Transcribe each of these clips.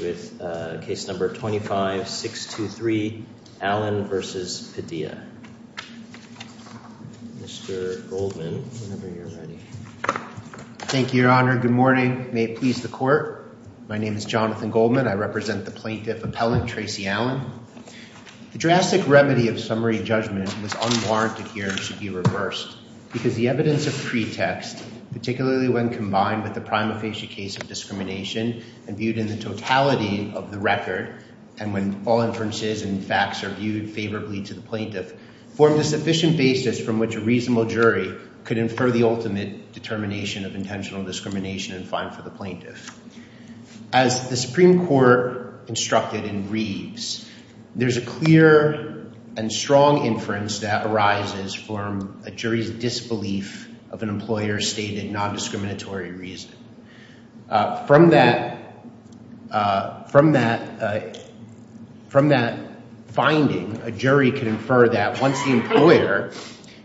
with case number 25-623 Allen versus Padilla, Mr. Goldman, whenever you're ready. Thank you, Your Honor. Good morning. May it please the court. My name is Jonathan Goldman. I represent the plaintiff appellant, Tracey Allen. The drastic remedy of summary judgment was unwarranted here and should be reversed because the evidence of pretext, particularly when combined with the prima facie case of discrimination and viewed in the totality of the record, and when all inferences and facts are viewed favorably to the plaintiff, formed a sufficient basis from which a reasonable jury could infer the ultimate determination of intentional discrimination and fine for the plaintiff. As the Supreme Court instructed in Reeves, there's a clear and strong inference that arises from a jury's disbelief of an employer's stated nondiscriminatory reason. From that finding, a jury can infer that once the employer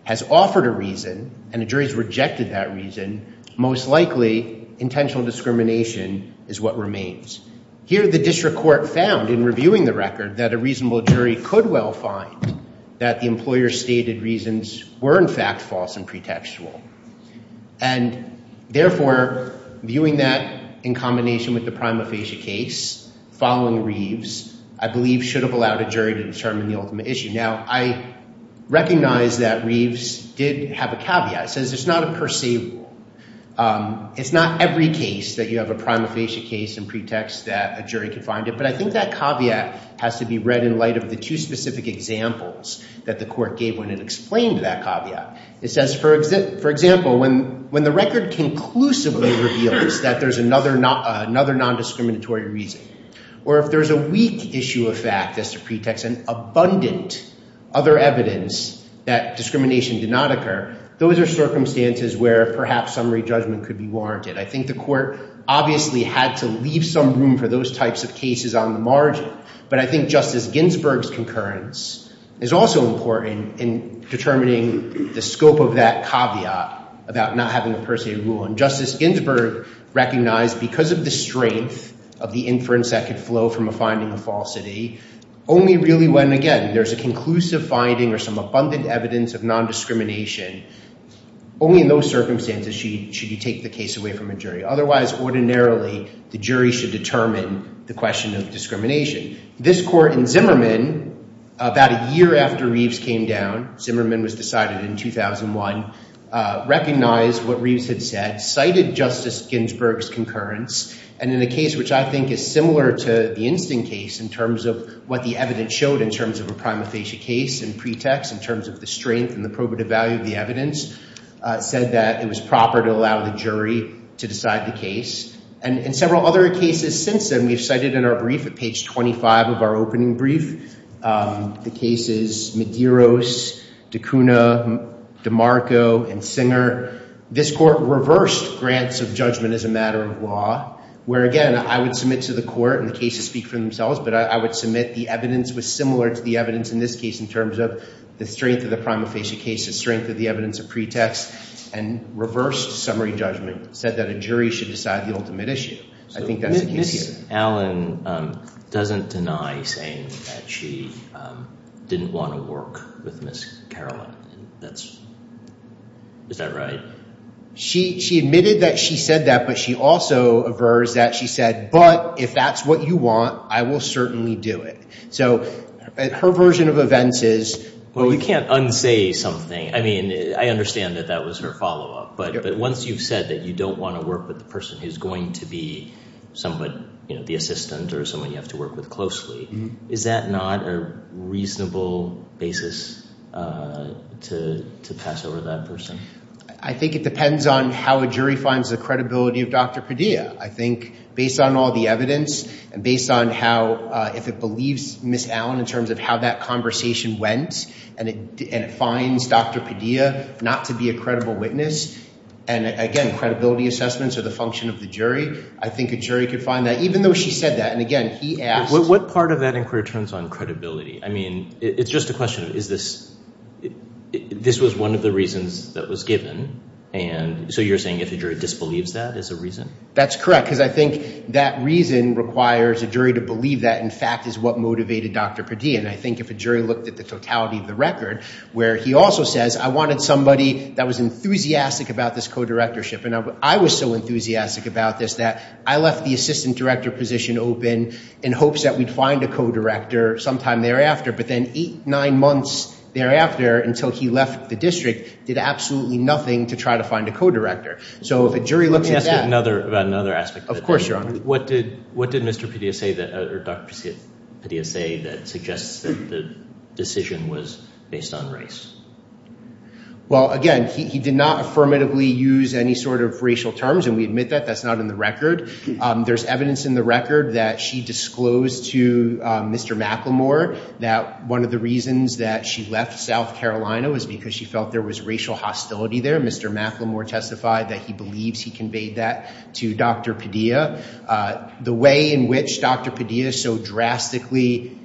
has offered a reason and a jury's rejected that reason, most likely intentional discrimination is what remains. Here the district court found in reviewing the record that a reasonable jury could well find that the employer's stated reasons were in fact false and pretextual. And therefore, viewing that in combination with the prima facie case following Reeves, I believe should have allowed a jury to determine the ultimate issue. Now, I recognize that Reeves did have a caveat. It says it's not a per se rule. It's not every case that you have a prima facie case and pretext that a jury could find it. But I think that caveat has to be read in light of the two specific examples that the court gave when it explained that caveat. It says, for example, when the record conclusively reveals that there's another nondiscriminatory reason, or if there's a weak issue of fact as a pretext and abundant other evidence that discrimination did not occur, those are circumstances where perhaps summary judgment could be warranted. I think the court obviously had to leave some room for those types of cases on the margin. But I think Justice Ginsburg's concurrence is also important in determining the scope of that caveat about not having a per se rule. And Justice Ginsburg recognized, because of the strength of the inference that could flow from a finding of falsity, only really when, again, there's a conclusive finding or some abundant evidence of nondiscrimination, only in those circumstances should you take the case away from a jury. Otherwise, ordinarily, the jury should determine the question of discrimination. This court in Zimmerman, about a year after Reeves came down, Zimmerman was decided in 2001, recognized what Reeves had said, cited Justice Ginsburg's concurrence. And in a case which I think is similar to the Instinct case in terms of what the evidence showed in terms of a prima facie case and pretext, in terms of the strength and the probative value of the evidence, said that it was proper to allow the jury to decide the case. And in several other cases since then, we've cited in our brief at page 25 of our opening brief, the cases Medeiros, DeCuna, DeMarco, and Singer, this court reversed grants of judgment as a matter of law, where, again, I would submit to the court, and the cases speak for themselves, but I would submit the evidence was similar to the evidence in this case in terms of the strength of the prima facie cases, strength of the evidence of pretext, and reversed summary judgment, said that a jury should decide the ultimate issue. I think that's the case here. So Ms. Allen doesn't deny saying that she didn't want to work with Ms. Caroline. Is that right? She admitted that she said that, but she also aversed that. She said, but if that's what you want, I will certainly do it. So her version of events is— Well, we can't unsay something. I understand that that was her follow-up, but once you've said that you don't want to work with the person who's going to be the assistant or someone you have to work with closely, is that not a reasonable basis to pass over that person? I think it depends on how a jury finds the credibility of Dr. Padilla. I think based on all the evidence and based on how, if it believes Ms. Allen in terms of how that conversation went, and it finds Dr. Padilla not to be a credible witness, and again, credibility assessments are the function of the jury, I think a jury could find that, even though she said that. And again, he asked— What part of that inquiry turns on credibility? I mean, it's just a question of is this—this was one of the reasons that was given. And so you're saying if a jury disbelieves that is a reason? That's correct, because I think that reason requires a jury to believe that, in fact, is what motivated Dr. Padilla. And I think if a jury looked at the totality of the record, where he also says, I wanted somebody that was enthusiastic about this co-directorship, and I was so enthusiastic about this that I left the assistant director position open in hopes that we'd find a co-director sometime thereafter. But then eight, nine months thereafter, until he left the district, did absolutely nothing to try to find a co-director. So if a jury looked at that— Let me ask you about another aspect. Of course, Your Honor. What did—what did Mr. Padilla say that—or Dr. Padilla say that suggests that the decision was based on race? Well, again, he did not affirmatively use any sort of racial terms, and we admit that. That's not in the record. There's evidence in the record that she disclosed to Mr. McLemore that one of the reasons that she left South Carolina was because she felt there was racial hostility there. Mr. McLemore testified that he believes he conveyed that to Dr. Padilla. The way in which Dr. Padilla so drastically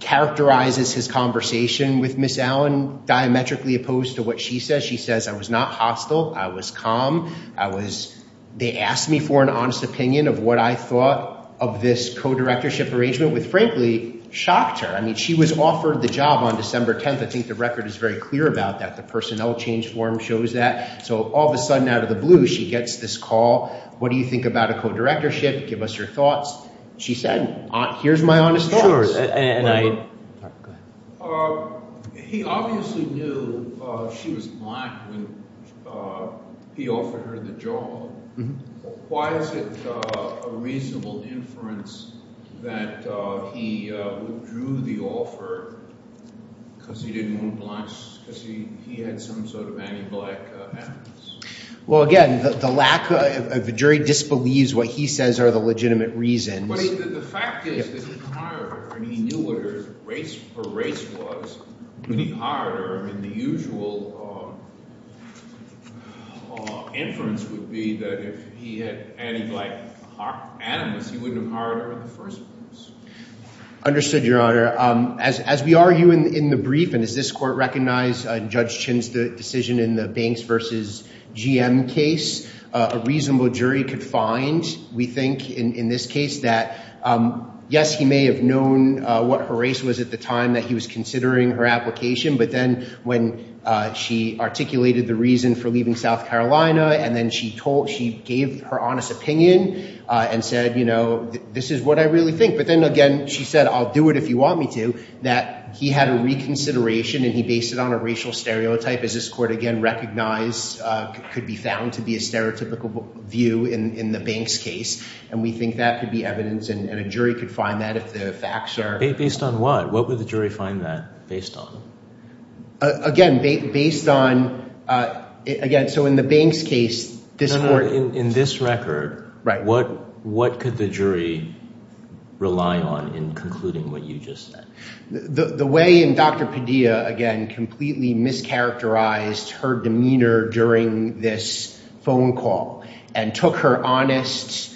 characterizes his conversation with Ms. Allen, diametrically opposed to what she says, she says, I was not hostile. I was calm. I was—they asked me for an honest opinion of what I thought of this co-directorship arrangement, which frankly shocked her. I mean, she was offered the job on December 10th. I think the record is very clear about that. The personnel change form shows that. So all of a sudden, out of the blue, she gets this call. What do you think about a co-directorship? Give us your thoughts. She said, here's my honest thoughts. He obviously knew she was Black when he offered her the job. Why is it a reasonable inference that he withdrew the offer because he didn't want to—because he had some sort of anti-Black antics? Well, again, the lack of—the jury disbelieves what he says are the legitimate reasons. But the fact is that he hired her, and he knew what her race was when he hired her. I mean, the usual inference would be that if he had anti-Black animus, he wouldn't have hired her in the first place. Understood, Your Honor. As we argue in the brief, and does this Court recognize Judge Chin's decision in the Banks v. GM case, a reasonable jury could find, we think, in this case, that yes, he may have known what her race was at the time that he was considering her application. But then when she articulated the reason for leaving South Carolina, and then she gave her honest opinion and said, you know, this is what I really think. But then again, she said, I'll do it if you want me to, that he had a reconsideration, and he based it on a racial stereotype. Does this Court, again, recognize—could be found to be a stereotypical view in the Banks case? And we think that could be evidence, and a jury could find that if the facts are— Based on what? What would the jury find that based on? Again, based on—again, so in the Banks case, this Court— In this record, what could the jury rely on in concluding what you just said? The way in Dr. Padilla, again, completely mischaracterized her demeanor during this phone call, and took her honest,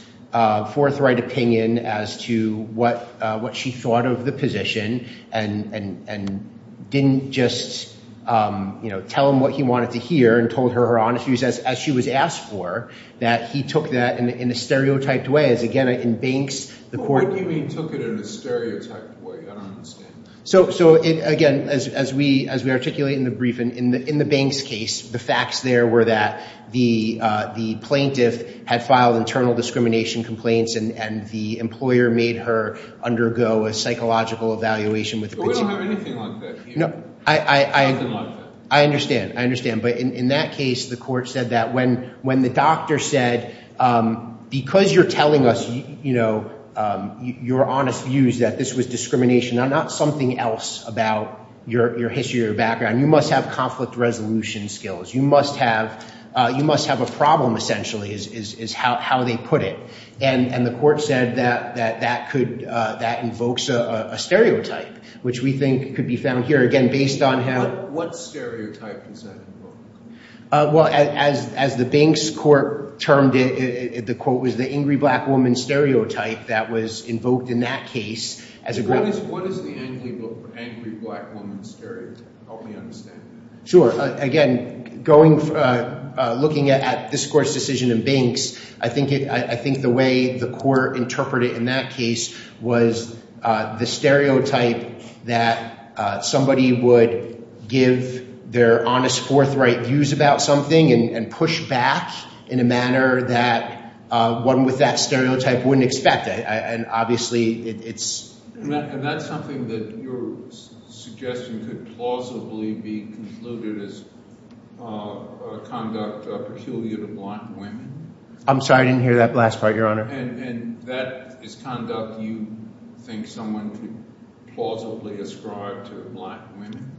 forthright opinion as to what she thought of the position, and didn't just, you know, tell him what he wanted to hear, and told her her honest views as she was asked for, that he took that in a stereotyped way, as again, in Banks, the Court— So, again, as we articulate in the brief, in the Banks case, the facts there were that the plaintiff had filed internal discrimination complaints, and the employer made her undergo a psychological evaluation with— We don't have anything like that here. No, I understand. I understand. But in that case, the Court said that when the doctor said, because you're telling us, you know, your honest views that this was discrimination, not something else about your history or background, you must have conflict resolution skills. You must have—you must have a problem, essentially, is how they put it. And the Court said that that could—that invokes a stereotype, which we think could be found here, again, based on how— What stereotype is that invoking? Well, as the Banks Court termed it, the quote was the angry black woman stereotype that was invoked in that case as a— What is the angry black woman stereotype? Help me understand that. Sure. Again, going—looking at this Court's decision in Banks, I think it—I think the way the Court interpreted in that case was the stereotype that somebody would give their honest, forthright views about something and push back in a manner that one with that stereotype wouldn't expect. And obviously, it's— And that's something that your suggestion could plausibly be concluded as conduct peculiar to black women? I'm sorry, I didn't hear that last part, Your Honor. And that is conduct you think someone could plausibly ascribe to black women?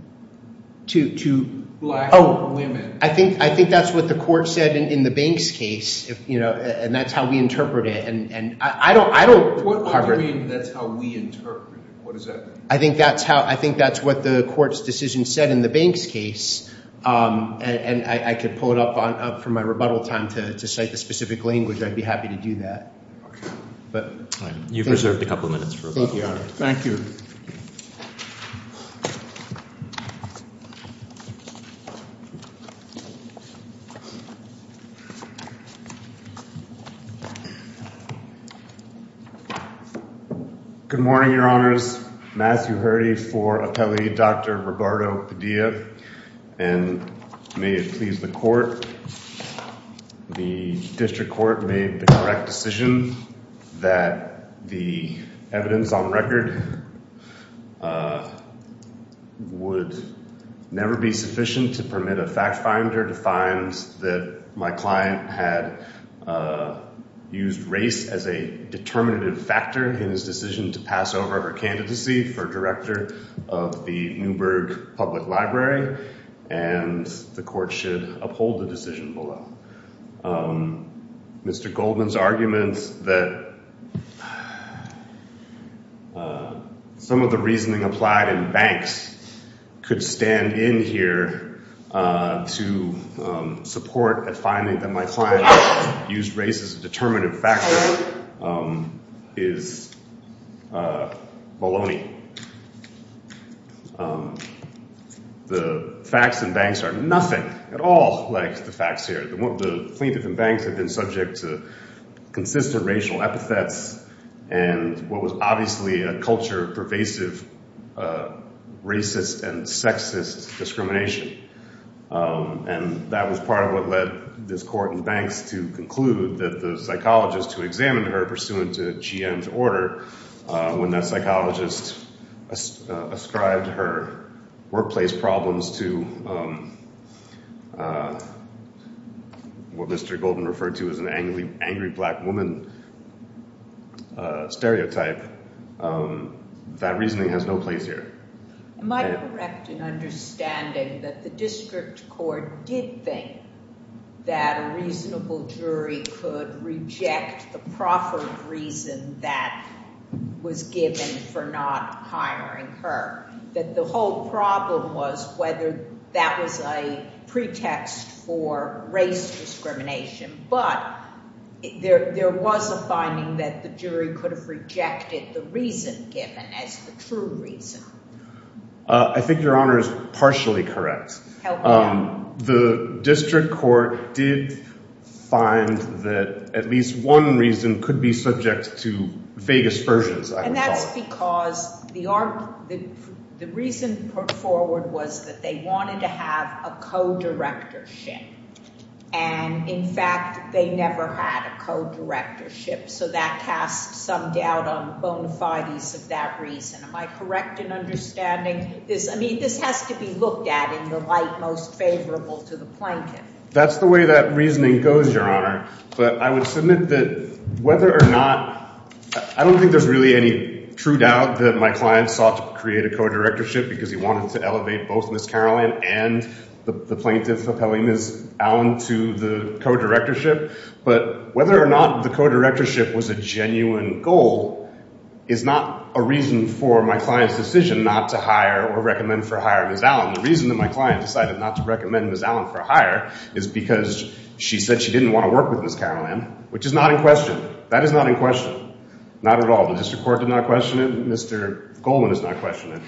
To— To black women. Oh, I think that's what the Court said in the Banks case, you know, and that's how we interpret it. And I don't— What do you mean, that's how we interpret it? What does that mean? I think that's how—I think that's what the Court's decision said in the Banks case. And I could pull it up for my rebuttal time to cite the specific language. I'd be happy to do that. Okay. But— All right. You've reserved a couple minutes for rebuttal. Thank you, Your Honor. Thank you. Good morning, Your Honors. Matthew Hurdy for Appellee Dr. Roberto Padilla. And may it please the Court, the District Court made the correct decision that the evidence on record would never be sufficient to permit a fact finder to find that my client had used race as a determinative factor in his decision to pass over her candidacy for director of the Newburgh Public Library. And the Court should uphold the decision below. Mr. Goldman's argument that some of the reasoning applied in Banks could stand in here to support at finding that my client used race as a determinative factor is baloney. The facts in Banks are nothing at all like the facts here. The plaintiff in Banks had been subject to consistent racial epithets and what was obviously a culture of pervasive racist and sexist discrimination. And that was part of what led this Court in Banks to conclude that the psychologist who examined her pursuant to G.M.'s order, when that psychologist ascribed her workplace problems to what Mr. Goldman referred to as an angry black woman stereotype, that reasoning has no place here. Am I correct in understanding that the District for not hiring her, that the whole problem was whether that was a pretext for race discrimination, but there was a finding that the jury could have rejected the reason given as the true reason? I think your Honor is partially correct. The District Court did find that at least one reason could be subject to vague aspersions. And that's because the reason put forward was that they wanted to have a co-directorship. And in fact, they never had a co-directorship. So that casts some doubt on the bona fides of that reason. Am I correct in understanding this? I mean, this has to be looked at in the light most favorable to the plaintiff. That's the way that reasoning goes, your Honor. But I would submit that whether or not—I don't think there's really any true doubt that my client sought to create a co-directorship because he wanted to elevate both Ms. Caroline and the plaintiff appellee, Ms. Allen, to the co-directorship. But whether or not the co-directorship was a genuine goal is not a reason for my client's decision not to hire or recommend for hire Ms. Allen. The reason that my client decided not to is because she said she didn't want to work with Ms. Caroline, which is not in question. That is not in question. Not at all. The district court did not question it. Mr. Goldman is not questioning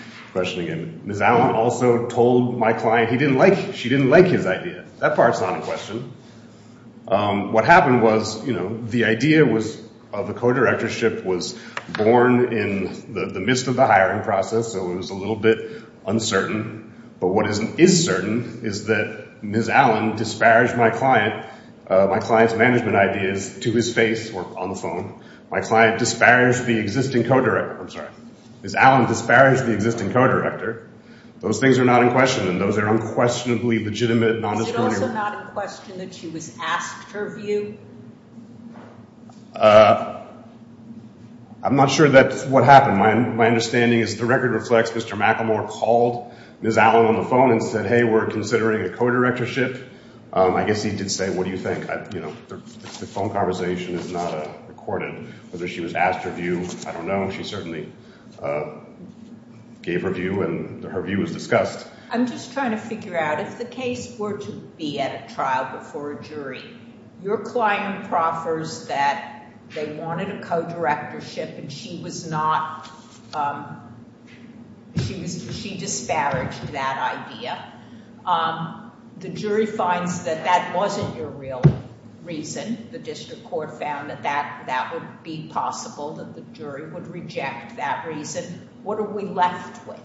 it. Ms. Allen also told my client she didn't like his idea. That part's not in question. What happened was the idea of a co-directorship was born in the midst of the hiring process, so it was a little bit uncertain. But what is certain is that Ms. Allen disparaged my client's management ideas to his face or on the phone. My client disparaged the existing co-director—I'm sorry. Ms. Allen disparaged the existing co-director. Those things are not in question, and those are unquestionably legitimate, non-discriminatory— Is it also not in question that she was asked her view? I'm not sure that's what happened. My understanding is the record reflects Mr. McElmore called Ms. Allen on the phone and said, hey, we're considering a co-directorship. I guess he did say, what do you think? The phone conversation is not recorded. Whether she was asked her view, I don't know. She certainly gave her view, and her view was discussed. I'm just trying to figure out if the case were to be at a trial before a jury, your client proffers that they wanted a co-directorship and she disparaged that idea. The jury finds that that wasn't your real reason. The district court found that that would be possible, that the jury would reject that reason. What are we left with?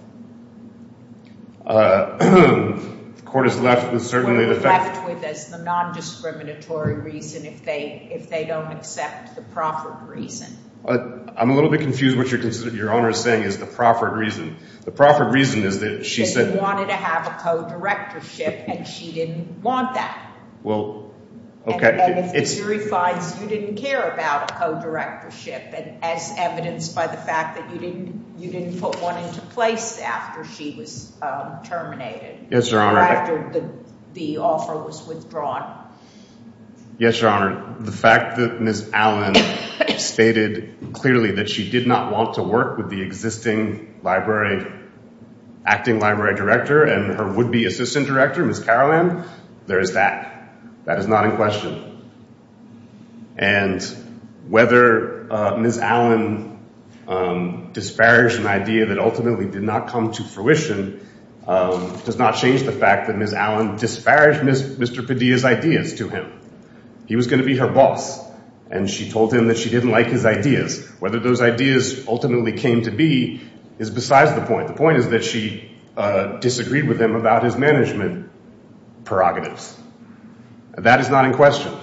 We're left with the non-discriminatory reason if they don't accept the proffered reason. I'm a little bit confused what your Honor is saying is the proffered reason. The proffered reason is that she said— She wanted to have a co-directorship, and she didn't want that. The jury finds you didn't care about a co-directorship as evidenced by the fact that you didn't put one into place after she was terminated, after the offer was withdrawn. Yes, your Honor. The fact that Ms. Allen stated clearly that she did not want to work with the existing acting library director and her would-be assistant director, Ms. Carolann, there is that. That is not in question. And whether Ms. Allen disparaged an idea that ultimately did not come to fruition does not change the fact that Ms. Allen disparaged Mr. Padilla's ideas to him. He was going to be her boss, and she told him that she didn't like his ideas. Whether those ideas ultimately came to be is besides the point. The point is she disagreed with him about his management prerogatives. That is not in question.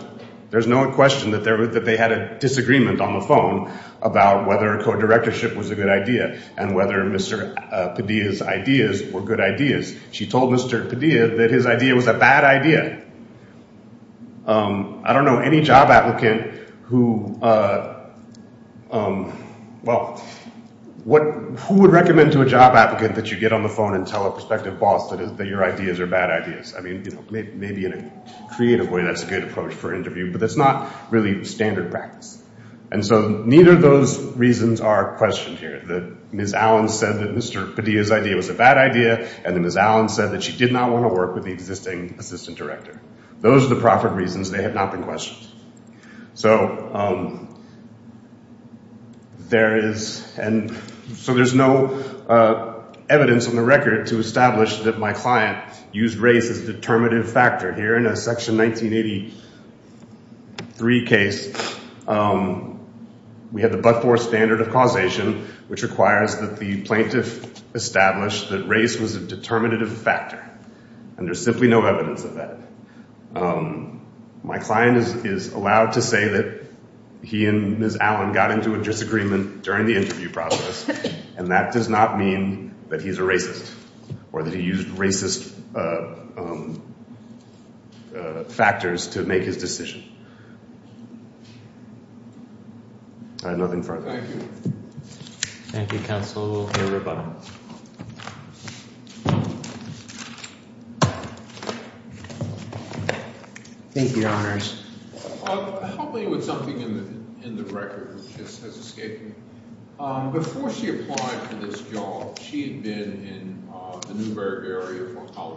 There's no question that they had a disagreement on the phone about whether a co-directorship was a good idea and whether Mr. Padilla's ideas were good ideas. She told Mr. Padilla that his idea was a on the phone and tell a prospective boss that your ideas are bad ideas. I mean, maybe in a creative way that's a good approach for an interview, but that's not really standard practice. And so neither of those reasons are questioned here. Ms. Allen said that Mr. Padilla's idea was a bad idea, and then Ms. Allen said that she did not want to work with the existing assistant director. Those are the proper reasons. They have not been questioned. So there is no evidence on the record to establish that my client used race as a determinative factor. Here in a Section 1983 case, we had the but-for standard of causation, which requires that the plaintiff establish that race was a determinative factor, and there's simply no evidence of that. Um, my client is allowed to say that he and Ms. Allen got into a disagreement during the interview process, and that does not mean that he's a racist or that he used racist factors to make his decision. I have nothing further. Thank you. Thank you, counsel. Thank you, your honors. Help me with something in the record that has escaped me. Before she applied for this job, she had been in the Newburgh area for how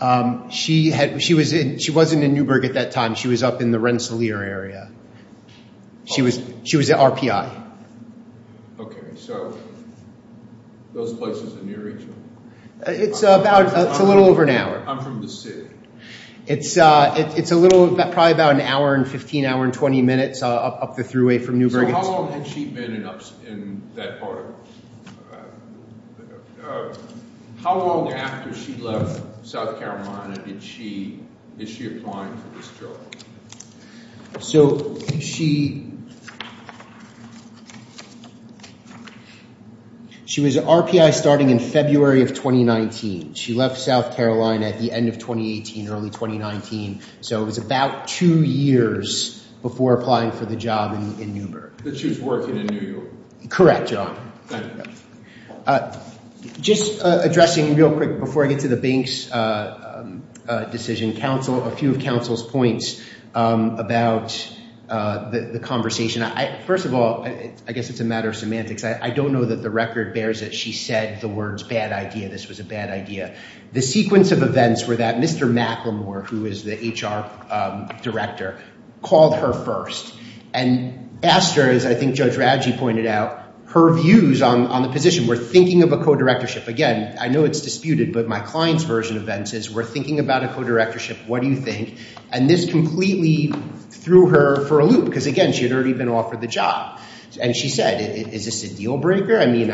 long? Um, she had, she was in, she wasn't in Newburgh at that time. She was up in the Rensselaer area. She was, she was at RPI. Okay, so those places are near each other? It's about, it's a little over an hour. I'm from the city. It's, uh, it's a little, probably about an hour and 15, hour and 20 minutes up the thruway from Newburgh. So how long had she been in that part of, uh, how long after she left South Carolina did she, is she applying for this job? So she, she was at RPI starting in February of 2019. She left South Carolina at the end of 2018, early 2019. So it was about two years before applying for the job in Newburgh. That she was working in New York. Correct, your honor. Thank you. Just addressing real quick before I get to the Binks decision, counsel, a few of counsel's points about the conversation. First of all, I guess it's a matter of semantics. I don't know that the record bears that she said the words bad idea. This was a bad idea. The sequence of events were that Mr. McLemore, who is the HR director, called her first and asked her, as I think Judge Radji pointed out, her views on the position. We're thinking of a co-directorship. Again, I know it's disputed, but my client's version of Binks is we're thinking about a co-directorship. What do you think? And this completely threw her for a loop, because again, she had already been offered the job. And she said, is this a deal breaker? I mean,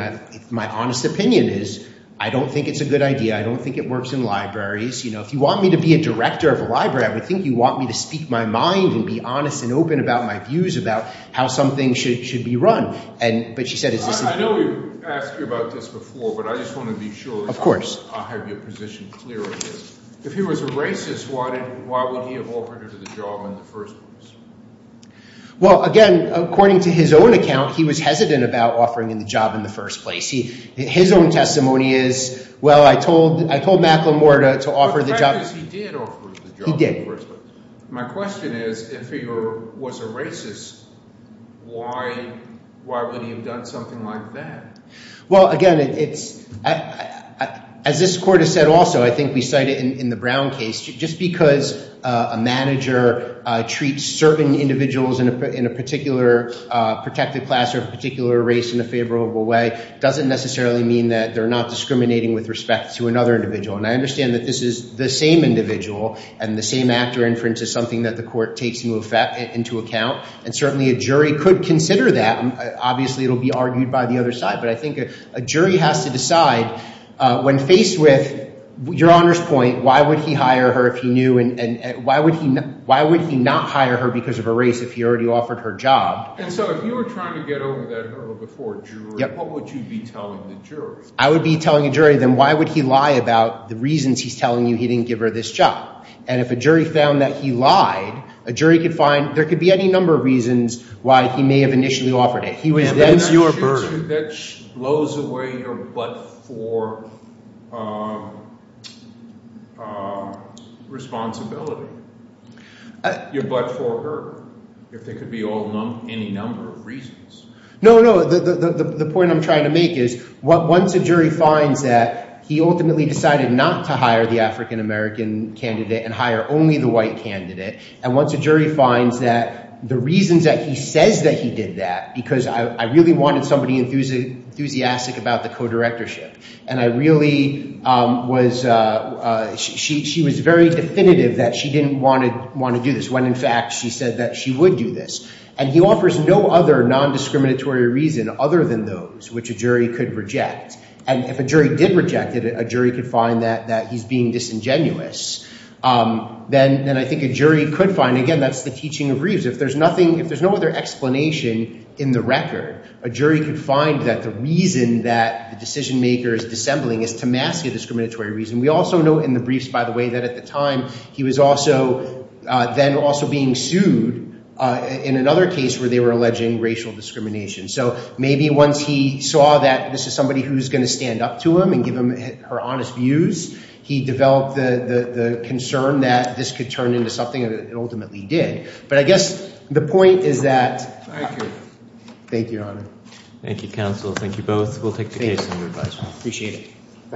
my honest opinion is I don't think it's a good idea. I don't think it works in libraries. You know, if you want me to be a director of a library, I would think you want me to speak my mind and be honest and open about my views about how something should be run. But she said, is this- I know we've asked you about this before, but I just want to be sure- Of course. I have your position clear on this. If he was a racist, why would he have offered her the job in the first place? Well, again, according to his own account, he was hesitant about offering the job in the first place. His own testimony is, well, I told Macklemore to offer the job- The fact is, he did offer the job in the first place. My question is, if he was a racist, why would he have done something like that? Well, again, as this court has said also, I think we cite it in the Brown case, just because a manager treats certain individuals in a particular protected class or a particular race in a favorable way doesn't necessarily mean that they're not discriminating with respect to another individual. And I understand that this is the same individual, and the same actor inference is something that the court takes into account. And certainly, a jury could consider that. Obviously, it'll be argued by the other side. But I think a jury has to decide, when faced with your Honor's point, why would he hire her if he knew, and why would he not hire her because of her race if he already offered her job? And so if you were trying to get over that hurdle before a jury, what would you be telling the jury? I would be telling a jury, then why would he lie about the reasons he's telling you he didn't give her this job? And if a jury found that he lied, a jury could find, there could be any number of reasons why he may have initially offered it. He was then to your burden. That blows away your but for responsibility, your but for her, if there could be any number of reasons. No, no. The point I'm trying to make is, once a jury finds that he ultimately decided not to hire the African-American candidate and hire only the white candidate, and once a jury finds that the reasons that he says that he did that, because I really wanted somebody enthusiastic about the co-directorship, and she was very definitive that she didn't want to do this, when in fact she said that she would do this. And he offers no other non-discriminatory reason other than those which a jury could reject. And if a jury did reject it, a jury could find that he's being disingenuous. Then I think a jury could find, again, that's the teaching of Reeves. If there's nothing, if there's no other explanation in the record, a jury could find that the reason that the decision-maker is dissembling is to mask a discriminatory reason. We also know in the briefs, by the way, that at the time, he was also, then also being sued in another case where they were alleging racial discrimination. So maybe once he saw that this is somebody who's going to stand up to him and give him her honest views, he developed the concern that this could turn into something that it ultimately did. But I guess the point is that... Thank you, Your Honor. Thank you, counsel. Thank you both. We'll take the case under advisement. Appreciate it. Thank you, Your Honor.